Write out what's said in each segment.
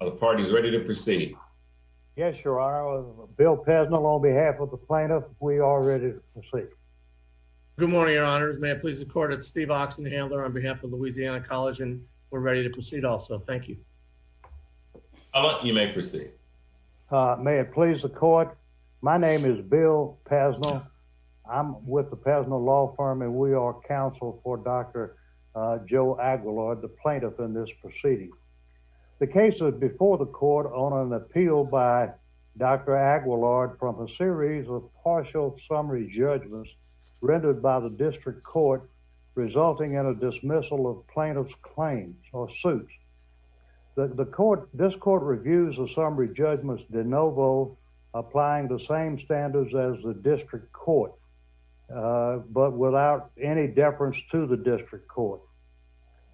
Are the parties ready to proceed? Yes, your honor. Bill Pesnell on behalf of the plaintiff, we are ready to proceed. Good morning, your honors. May it please the court, it's Steve Oxenhandler on behalf of Louisiana College and we're ready to proceed also. Thank you. You may proceed. May it please the court, my name is Bill Pesnell. I'm with the Pesnell Law Firm and we are counsel for Dr. Joe Aguillard, the plaintiff in this proceeding. The case is before the court on an appeal by Dr. Aguillard from a series of partial summary judgments rendered by the district court, resulting in a dismissal of plaintiff's claims or suits. This court reviews the summary judgments de novo, applying the same standards as the district court, but without any deference to the district court.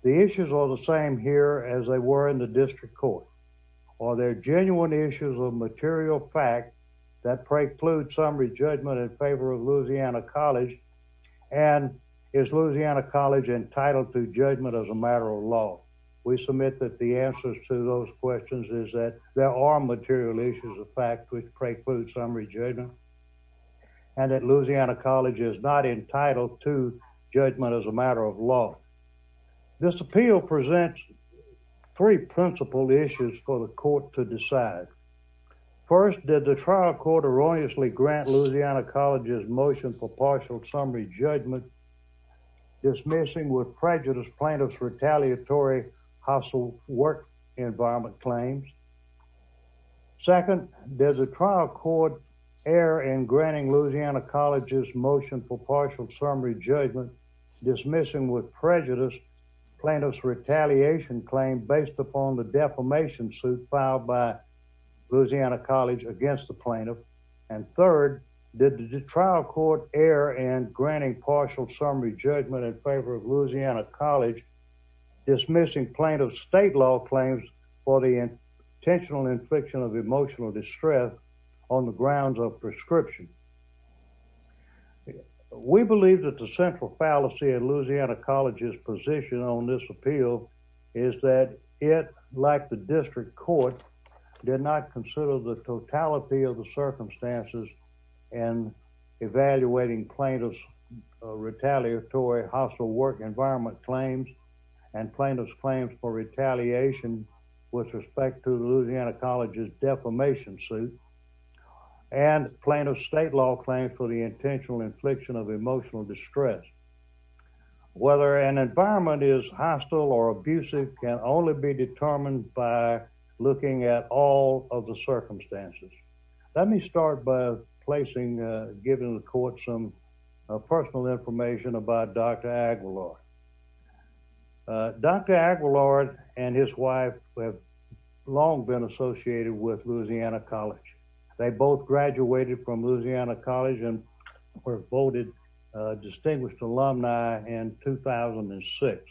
The issues are the same here as they were in the district court. Are there genuine issues of material fact that preclude summary judgment in favor of Louisiana College and is Louisiana College entitled to judgment as a matter of law? We submit that the answers to those questions is that there are material issues of fact which preclude summary judgment and that Louisiana College is not entitled to judgment as a matter of law. This appeal presents three principal issues for the court to decide. First, did the trial court erroneously grant Louisiana College's motion for partial summary judgment dismissing with prejudice plaintiff's retaliatory hostile work environment claims? Second, does the trial court err in granting Louisiana College's motion for partial summary judgment dismissing with prejudice plaintiff's retaliation claim based upon the defamation suit filed by Louisiana College against the plaintiff? And third, did the trial court err in granting partial summary judgment in favor of Louisiana College dismissing plaintiff's state law claims for the intentional infliction of emotional distress on the grounds of prescription? We believe that the central fallacy of Louisiana College's position on this appeal is that it, like the district court, did not consider the totality of the circumstances in evaluating plaintiff's retaliatory hostile work environment claims and plaintiff's claims for retaliation with respect to Louisiana College's defamation suit and plaintiff's state law claims for the intentional infliction of emotional distress. Whether an environment is hostile or abusive can only be determined by looking at all of the circumstances. Let me start by placing, giving the court some personal information about Dr. Aguilar. Dr. Aguilar and his wife have long been associated with Louisiana College. They both graduated from Louisiana College and were voted distinguished alumni in 2006.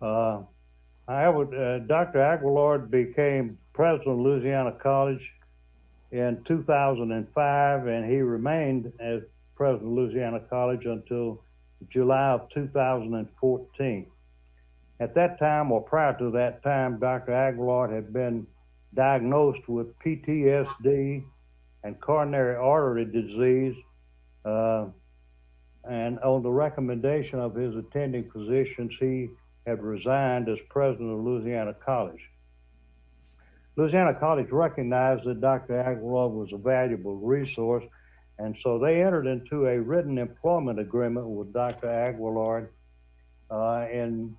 However, Dr. Aguilar became president of Louisiana College in 2005 and he remained as president of Louisiana College until July of 2014. At that time, or prior to that time, Dr. Aguilar had been diagnosed with PTSD and coronary artery disease and on the recommendation of his attending physicians, he had resigned as president of Louisiana College. Louisiana College recognized that Dr. Aguilar was a valuable resource and so they entered into a written employment agreement with Dr. Aguilar in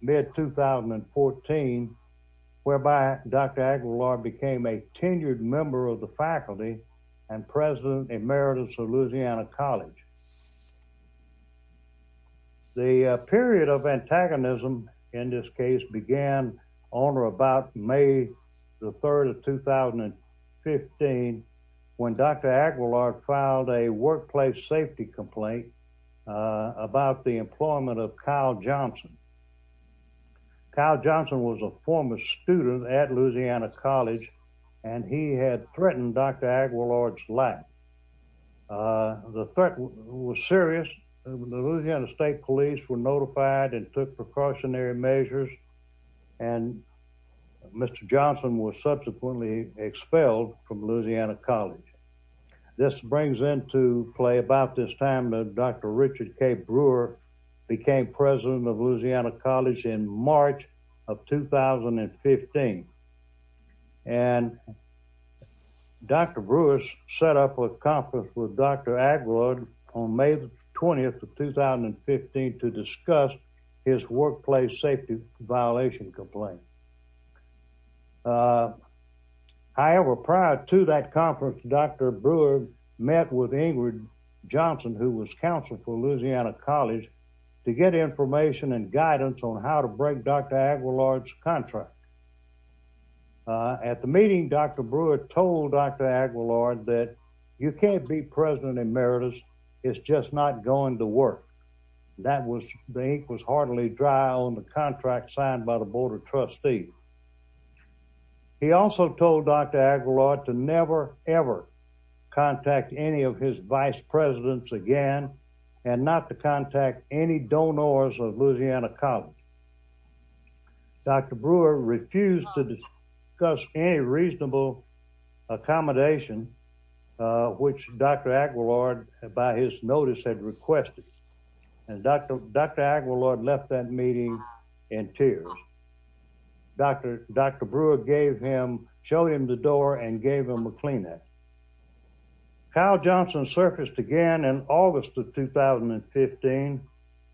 mid-2014 whereby Dr. Aguilar became a tenured member of the faculty and president emeritus of Louisiana College. The period of antagonism in this case began on or about May the 3rd of 2015 when Dr. Aguilar filed a workplace safety complaint about the employment of Kyle Johnson. Kyle Johnson was a former student at Louisiana College and he had threatened Dr. Aguilar's life. The threat was serious. The Louisiana State Police were notified and took precautionary measures and Mr. Johnson was subsequently expelled from Louisiana College. This brings into play about this time that Dr. Richard K. Brewer became president of Louisiana College in March of 2015 and Dr. Brewer set up a conference with Dr. Aguilar on May 20th of 2015 to discuss his workplace safety violation complaint. However, prior to that conference, Dr. Brewer met with Ingrid Johnson who was counselor for Louisiana College to get information and guidance on how to break Dr. Aguilar's contract. At the meeting, Dr. Brewer told Dr. Aguilar that you can't be president emeritus. It's just not going to work. The ink was hardly dry on the contract signed by the board of trustees. He also told Dr. Aguilar to never ever contact any of his vice presidents again and not to contact any donors of Louisiana College. Dr. Brewer refused to discuss any reasonable accommodation which Dr. Aguilar by his notice had requested and Dr. Aguilar left that meeting in tears. Dr. Brewer gave him, showed him the door and gave him a Kleenex. Kyle Johnson surfaced again in August of 2015.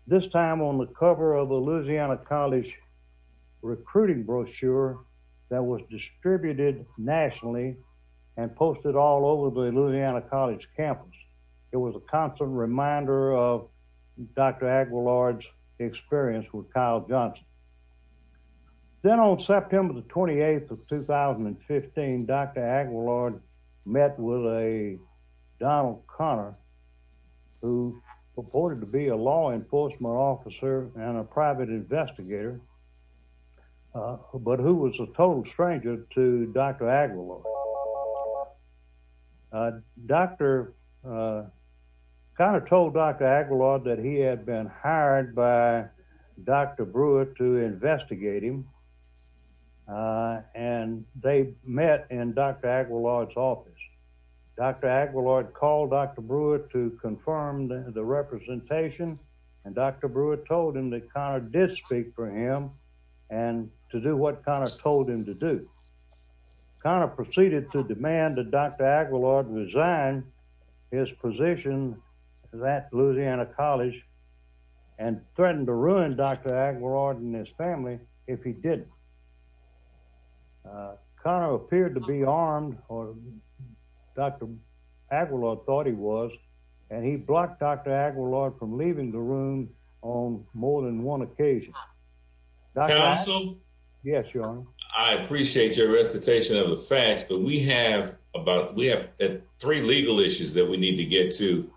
This time on the cover of a Louisiana College recruiting brochure that was distributed nationally and posted all over the Louisiana College campus. It was a constant reminder of Dr. Aguilar's experience with Kyle Johnson. Then on September the 28th of 2015, Dr. Aguilar met with a Donald Conner who purported to be a law enforcement officer and a private investigator but who was a total stranger to Dr. Aguilar. Dr. Aguilar kind of told Dr. Aguilar that he had been office. Dr. Aguilar called Dr. Brewer to confirm the representation and Dr. Brewer told him that Conner did speak for him and to do what Conner told him to do. Conner proceeded to demand that Dr. Aguilar resign his position at Louisiana College and threatened to ruin Dr. Aguilar and his family if he didn't. Conner appeared to be armed or Dr. Aguilar thought he was and he blocked Dr. Aguilar from leaving the room on more than one occasion. I appreciate your recitation of the facts but we have about we have three legal issues that we need to get to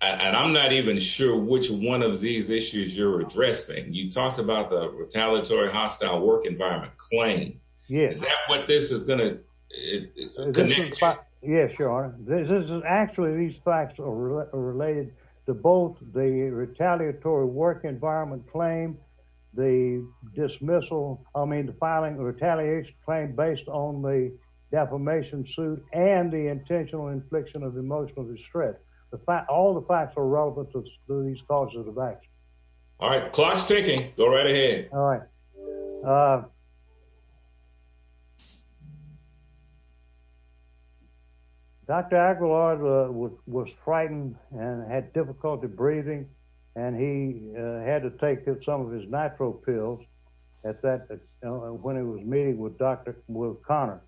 and I'm not even sure which one of these issues you're addressing. You talked about the retaliatory hostile work environment claim. Is that what this is going to connect to? Yes, your honor. This is actually these facts are related to both the retaliatory work environment claim, the dismissal, I mean the filing of retaliation claim based on the defamation suit and the intentional infliction of emotional distress. The fact all the facts are relevant to these causes of action. All right, clock's ticking. Go right ahead. All right. Dr. Aguilar was frightened and had difficulty breathing and he had to take some of his nitro pills at that when he was meeting with Dr. Conner.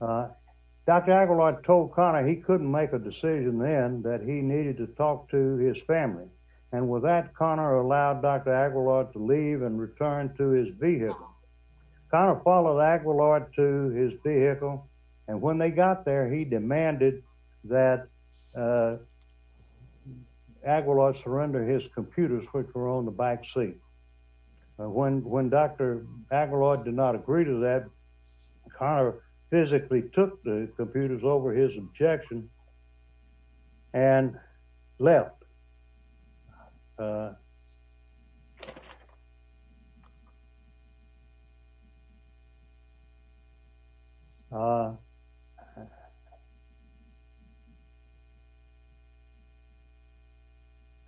Dr. Aguilar told Conner he couldn't make a decision then that he needed to talk to his family and with that Conner allowed Dr. Aguilar to leave and return to his vehicle. Conner followed Aguilar to his vehicle and when they got there he demanded that Aguilar surrender his computers which were on the back seat. When Dr. Aguilar did not agree to that, Conner physically took the computers over his objection and left. Uh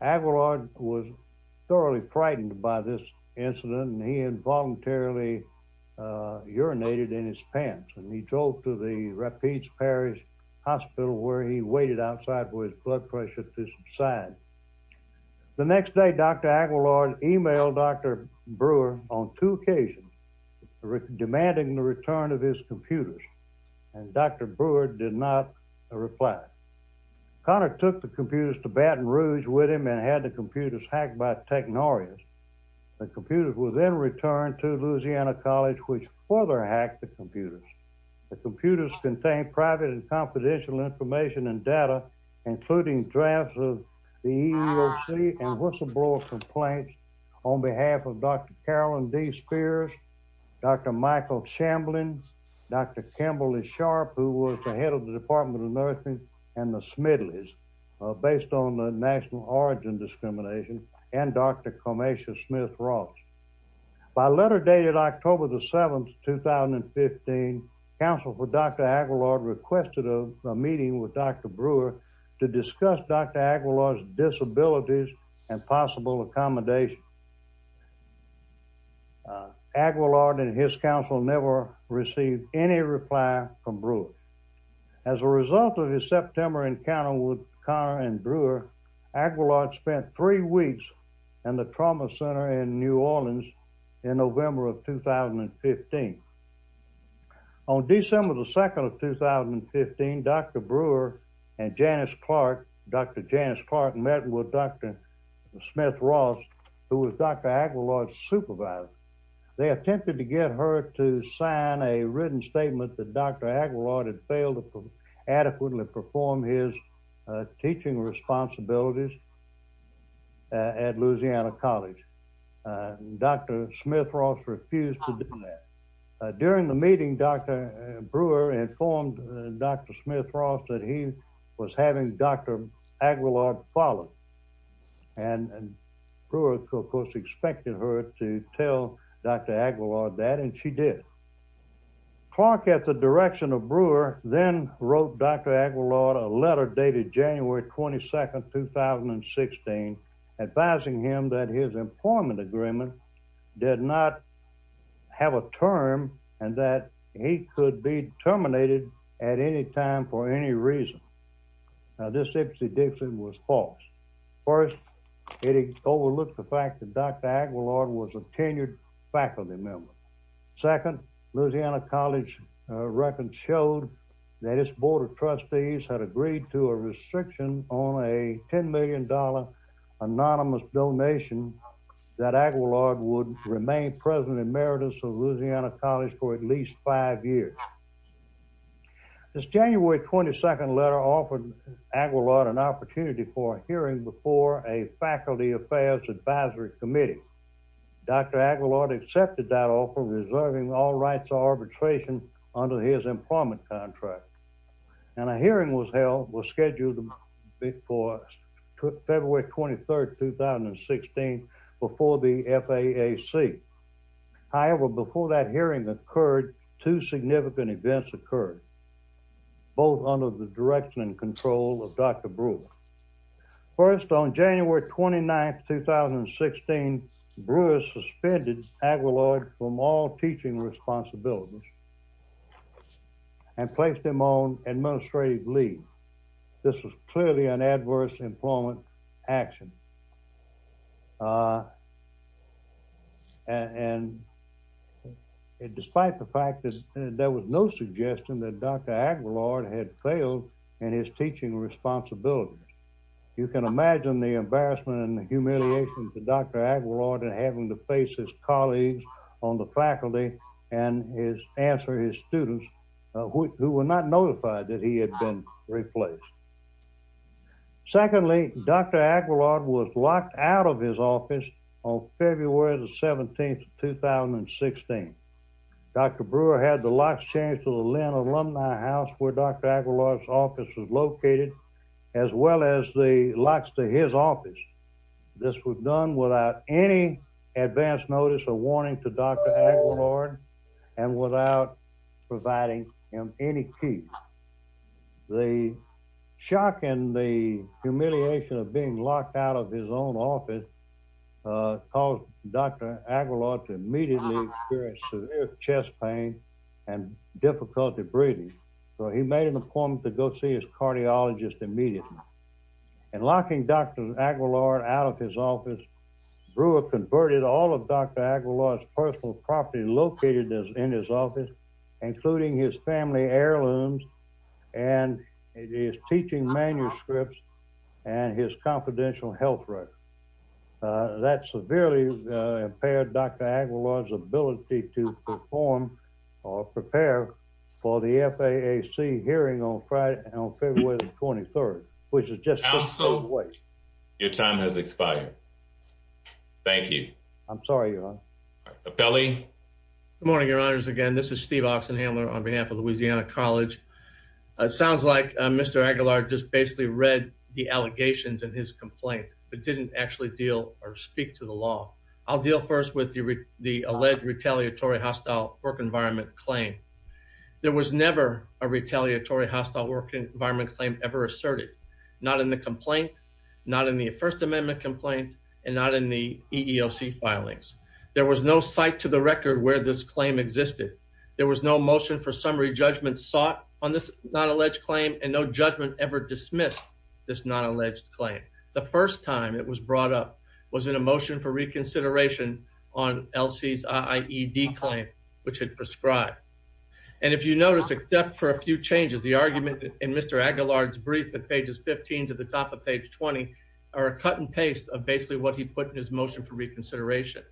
Aguilar was thoroughly frightened by this incident and he had voluntarily uh urinated in his pants and he drove to the Rapides Parish hospital where he waited outside for his blood pressure to subside. The next day Dr. Aguilar emailed Dr. Brewer on two occasions demanding the return of his computers and Dr. Brewer did not reply. Conner took the computers to Baton Rouge with him and had the computers hacked by technorias. The computers were then returned to Louisiana College which further hacked the computers. The computers contained private and confidential information and data including drafts of the EEOC and whistleblower complaints on behalf of Dr. Carolyn D Spears, Dr. Michael Shamblin, Dr. Kimberly Sharp who was the head of the Department of Nursing and the Smidleys based on the national origin discrimination and Dr. Comasha Smith-Ross. By letter dated October the 7th, 2015, Council for Dr. Aguilar requested a meeting with Dr. Brewer to discuss Dr. Aguilar's disabilities and possible accommodation. Aguilar and his council never received any reply from Brewer. As a result of his September encounter with Conner and Brewer, Aguilar spent three weeks in the trauma center in New Orleans in November of 2015. On December the 2nd of 2015, Dr. Brewer and Janice Clark, Dr. Janice Clark met with Dr. Smith-Ross who was Dr. Aguilar's supervisor. They attempted to get her to teach teaching responsibilities at Louisiana College. Dr. Smith-Ross refused to do that. During the meeting, Dr. Brewer informed Dr. Smith-Ross that he was having Dr. Aguilar follow and Brewer of course expected her to tell Dr. Aguilar that and she did. Clark, at the direction of Brewer, then wrote Dr. Aguilar a letter dated January 22nd, 2016 advising him that his employment agreement did not have a term and that he could be terminated at any time for any reason. Now this was false. First, it overlooked the fact that Dr. Aguilar was a tenured faculty member. Second, Louisiana College records showed that its board of trustees had agreed to a restriction on a 10 million dollar anonymous donation that Aguilar would remain president emeritus of Louisiana College for at least five years. This January 22nd letter offered Aguilar an opportunity for a hearing before a faculty affairs advisory committee. Dr. Aguilar accepted that offer reserving all rights of arbitration under his employment contract and a hearing was held was scheduled for February 23rd, 2016 before the FAAC. However, before that hearing occurred, two significant events occurred both under the direction and control of Dr. Brewer. First, on January 29th, 2016, Brewer suspended Aguilar from all teaching responsibilities and placed him on administrative leave. This was clearly an adverse employment action and despite the fact that there was no suggestion that Dr. Aguilar had failed in his teaching responsibilities, you can imagine the embarrassment and humiliation to Dr. Aguilar and having to face his colleagues on the faculty and his answer his students who were not notified that he had been replaced. Secondly, Dr. Aguilar was locked out of his office on February the 17th, 2016. Dr. Brewer had the locks changed to the Lynn Alumni House where Dr. Aguilar's office was located as well as the locks to his office. This was done without any advance notice or warning to Dr. Aguilar and without providing him any keys. The shock and the humiliation of being locked out of his own office caused Dr. Aguilar to immediately experience severe chest pain and difficulty breathing so he made an appointment to go see his cardiologist immediately and locking Dr. Aguilar out of his office, Brewer converted all of Dr. Aguilar's personal property located in his office including his family heirlooms and his teaching manuscripts and his confidential health record. That severely impaired Dr. Aguilar's ability to perform or prepare for the FAAC hearing on February the 23rd which is just so late. Your time has expired. Thank you. I'm sorry your honor. Good morning your honors again this is Steve Oxenhandler on behalf of Louisiana College. It sounds like Mr. Aguilar just basically read the allegations in his complaint but didn't actually deal or speak to the law. I'll deal first with the the alleged retaliatory hostile work environment claim. There was never a retaliatory hostile work environment claim ever asserted. Not in the complaint, not in the first amendment complaint and not in the EEOC filings. There was no site to the record where this claim existed. There was no motion for summary judgment sought on this non-alleged claim and no judgment ever dismissed this non-alleged claim. The first time it was brought up was in a motion for reconsideration on LC's IED claim which had prescribed. And if you notice except for a few changes the argument in Mr. Aguilar's brief at pages 15 to the top of page 20 are a cut and paste of basically what he put in his motion for reconsideration.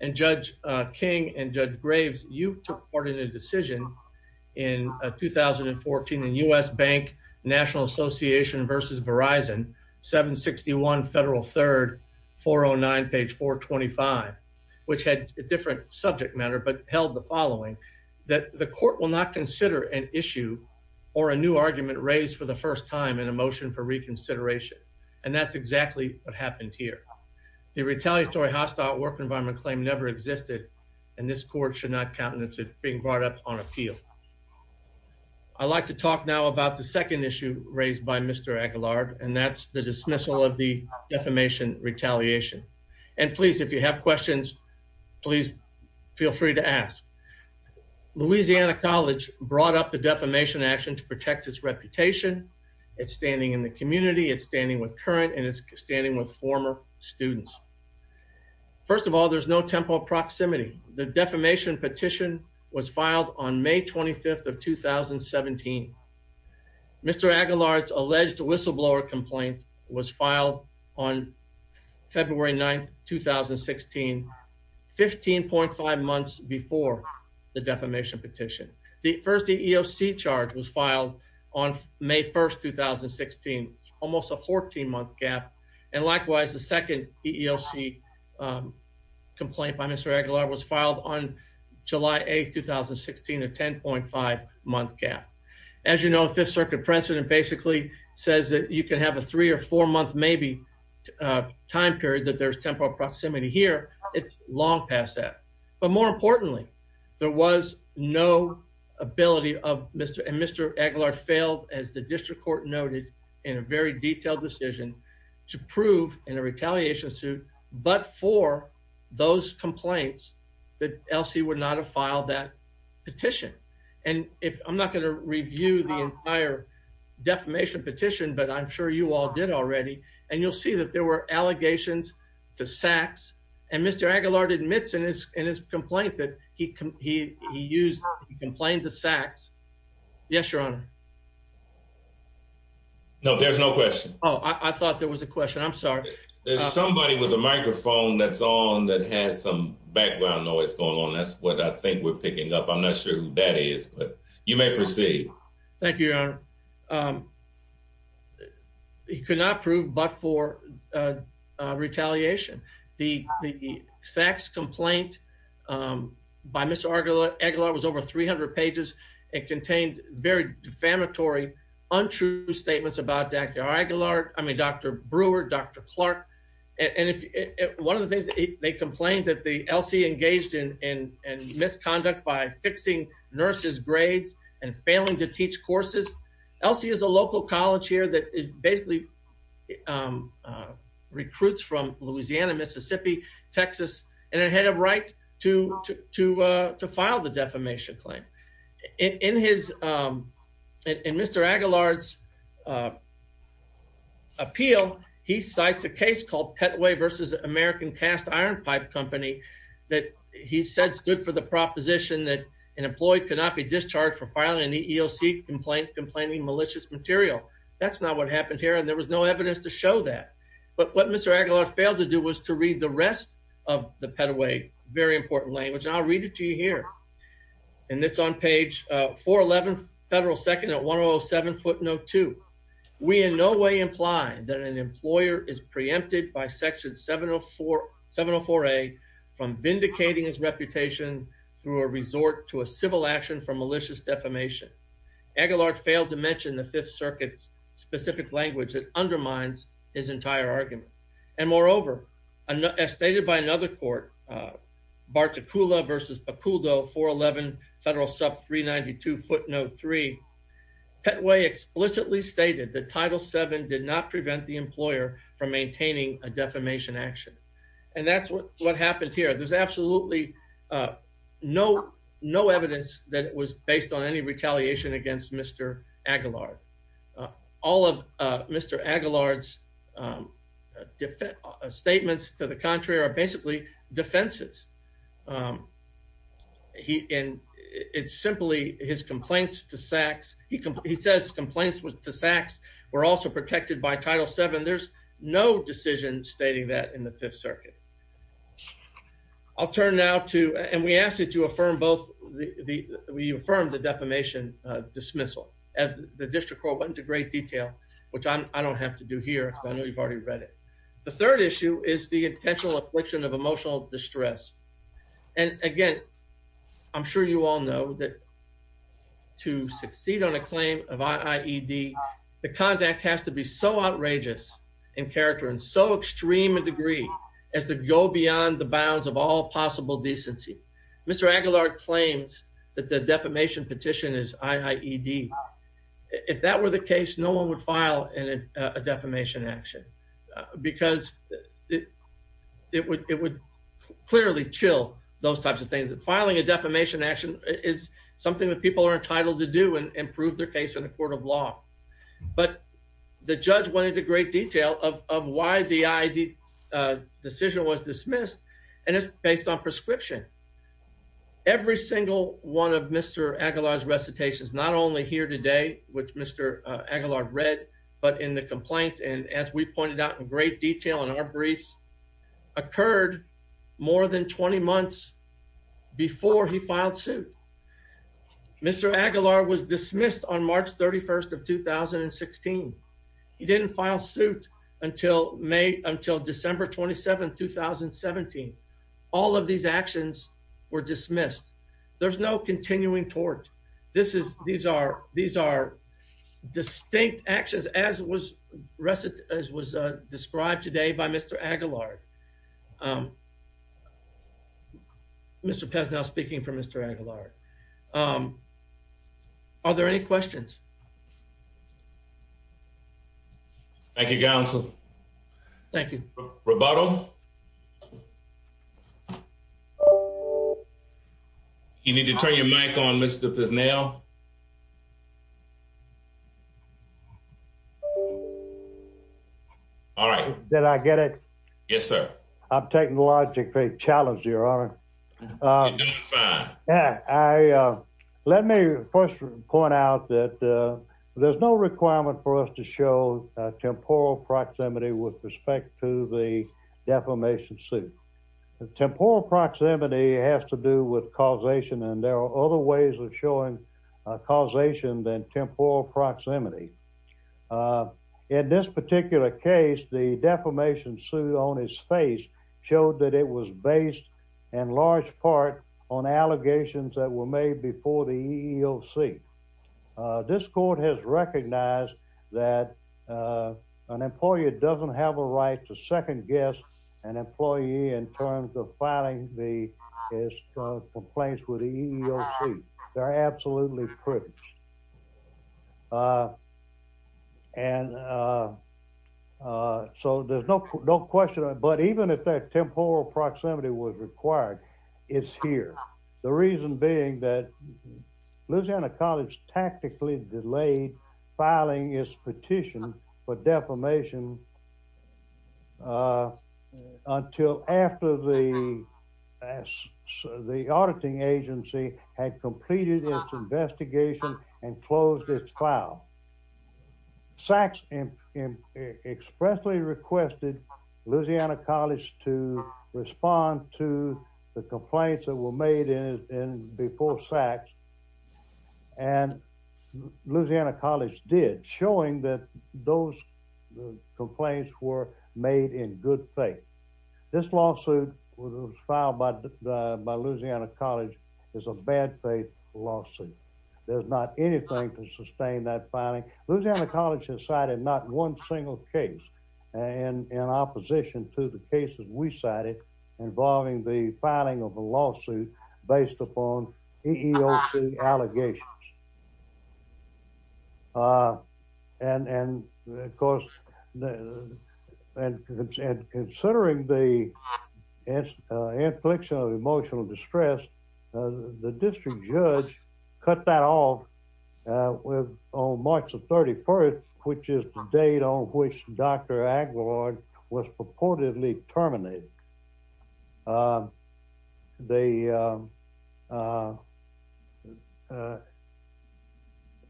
And Judge King and Judge Graves you took part in a decision in 2014 in U.S. Bank National Association versus Verizon 761 Federal 3rd 409 page 425 which had a different subject matter but held the following that the court will not consider an issue or a new argument raised for the first time in a motion for reconsideration. And that's exactly what happened here. The retaliatory hostile work environment claim never existed and this court should not being brought up on appeal. I'd like to talk now about the second issue raised by Mr. Aguilar and that's the dismissal of the defamation retaliation. And please if you have questions please feel free to ask. Louisiana College brought up the defamation action to protect its reputation. It's standing in the community. It's standing with current and it's standing with filed on May 25th of 2017. Mr. Aguilar's alleged whistleblower complaint was filed on February 9th 2016 15.5 months before the defamation petition. The first EEOC charge was filed on May 1st 2016 almost a 14 month gap and likewise the second EEOC complaint by Mr. Aguilar was filed on July 8th 2016 a 10.5 month gap. As you know Fifth Circuit precedent basically says that you can have a three or four month maybe time period that there's temporal proximity here. It's long past that but more importantly there was no ability of Mr. and Mr. Aguilar failed as the district court noted in a very detailed decision to prove in a retaliation suit but for those complaints that else he would not have filed that petition. And if I'm not going to review the entire defamation petition but I'm sure you all did already and you'll see that there were allegations to Sachs and Mr. Aguilar admits in his in his complaint that he he he used he complained to Sachs. Yes your honor. No there's no question. Oh I thought there was a question I'm sorry. There's somebody with a microphone that's on that has some background noise going on that's what I think we're picking up. I'm not sure who that is but you may proceed. Thank you your honor. He could not prove but for uh retaliation. The the Sachs complaint um by Mr. Aguilar was over 300 pages and contained very defamatory untrue statements about Dr. Aguilar I mean Dr. Brewer, Dr. Clark and if one of the things they complained that the LC engaged in in in misconduct by fixing nurses grades and failing to teach courses. LC is a local college here that basically recruits from Louisiana, Mississippi, Texas and a head of right to to uh to file the defamation claim. In his um in Mr. Aguilar's uh appeal he cites a case called Petway versus American Cast Iron Pipe Company that he said stood for the proposition that an employee could not be discharged for filing an EEOC complaint complaining malicious material. That's not what happened here and there was no evidence to show that but what Mr. Aguilar failed to do was to read the rest of the Petway very important language and I'll read it to you here and it's on page uh 411 federal second at 107 foot note two. We in no way imply that an employer is preempted by section 704 704a from vindicating his reputation through a resort to a civil action for malicious defamation. Aguilar failed to mention the fifth circuit's specific language that another court uh Barticula versus Bacoldo 411 federal sub 392 foot note three Petway explicitly stated that title seven did not prevent the employer from maintaining a defamation action and that's what happened here. There's absolutely uh no no evidence that it was based on any retaliation against Mr. Aguilar. All of uh Mr. Aguilar's um defense statements to the contrary are basically defenses um he and it's simply his complaints to sacks he he says complaints with the sacks were also protected by title seven. There's no decision stating that in the fifth circuit. I'll turn now to and we asked you to affirm both the we affirmed the defamation uh dismissal as the district court went into great detail which I don't have to do here because I is the intentional affliction of emotional distress and again I'm sure you all know that to succeed on a claim of i.e.d the contact has to be so outrageous in character and so extreme a degree as to go beyond the bounds of all possible decency. Mr. Aguilar claims that the defamation petition is i.e.d if that were the case no one would file in a defamation action because it it would it would clearly chill those types of things and filing a defamation action is something that people are entitled to do and prove their case in the court of law but the judge went into great detail of of why the i.e.d decision was dismissed and it's based on prescription. Every single one of Mr. Aguilar's recitations not only here today which Mr. Aguilar read but in the complaint and as we pointed out in great detail in our briefs occurred more than 20 months before he filed suit. Mr. Aguilar was dismissed on March 31st of 2016. He didn't file suit until May until December 27, 2017. All of these actions were dismissed. There's no continuing tort. This is these are these are distinct actions as was recited as was described today by Mr. Aguilar. Mr. Pesnell speaking for Mr. Aguilar. Are there any questions? Thank you, counsel. Thank you. Roboto. You need to turn your mic on, Mr. Pesnell. All right. Did I get it? Yes, sir. I'm technologically challenged, your honor. You're doing fine. Let me first point out that there's no requirement for us to show temporal proximity with respect to the defamation suit. Temporal proximity has to do with causation and there are other ways of showing causation than temporal proximity. In this particular case, the defamation suit on his face showed that it was based in large part on allegations that were made before the EEOC. This court has recognized that an employer doesn't have a right to second guess an employee in terms of filing the complaints with the EEOC. They're so there's no question. But even if that temporal proximity was required, it's here. The reason being that Louisiana College tactically delayed filing its petition for defamation until after the auditing agency had completed its investigation and closed its file. SACS expressly requested Louisiana College to respond to the complaints that were made in before SACS and Louisiana College did, showing that those complaints were made in good faith. This lawsuit was filed by Louisiana College. It's a bad faith lawsuit. There's not anything to sustain that filing. Louisiana College has cited not one single case in opposition to the cases we cited involving the filing of a lawsuit based upon EEOC allegations. Considering the infliction of emotional distress, the district judge cut that off on March the 31st, which is the date on which Dr. Aguilar was purportedly terminated.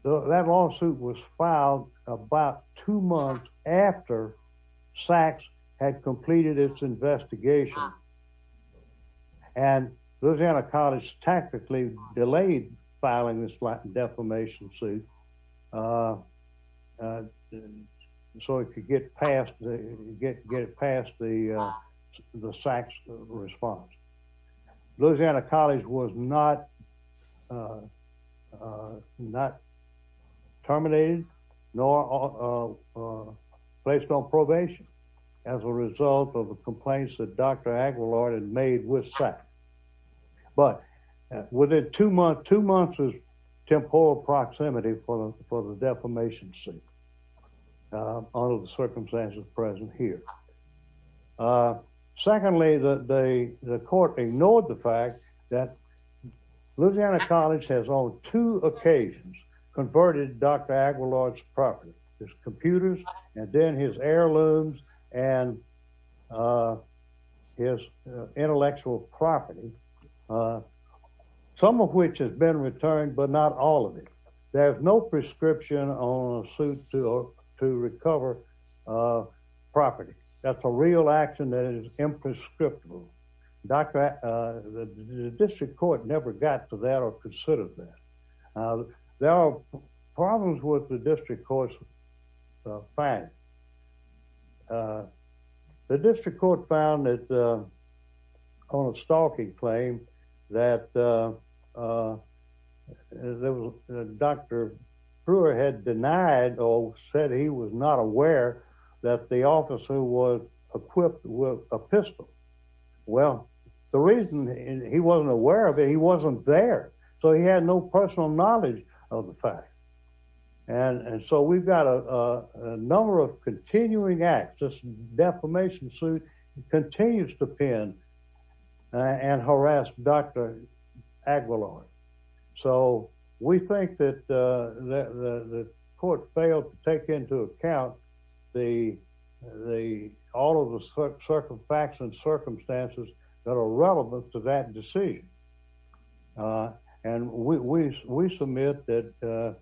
That lawsuit was filed about two months after SACS had completed its investigation. And Louisiana College tactically delayed filing this defamation suit so it could get past the SACS response. Louisiana College was not terminated nor was placed on probation as a result of the complaints that Dr. Aguilar had made with SACS. But within two months was temporal proximity for the defamation suit under the circumstances present here. Secondly, the court ignored the fact that and then his heirlooms and his intellectual property, some of which has been returned, but not all of it. There's no prescription on a suit to recover property. That's a real action that is imprescriptible. The district court never got to that or considered that. There are problems with the district court's finding. The district court found on a stalking claim that Dr. Brewer had denied or said he was not aware that the officer was equipped with a pistol. Well, the reason he wasn't aware of it, he wasn't there, so he had no personal knowledge of the fact. And so we've got a number of continuing acts. This defamation suit continues to pin and harass Dr. Aguilar. So we think that the court failed to take into account all of the facts and circumstances that are relevant to that decision. And we submit that the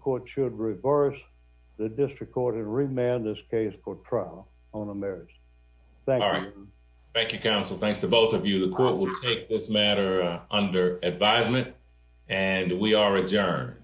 court should reverse the district court and remand this case for trial on a marriage. Thank you. Thank you, counsel. Thanks to both of you. The court will take this under advisement, and we are adjourned.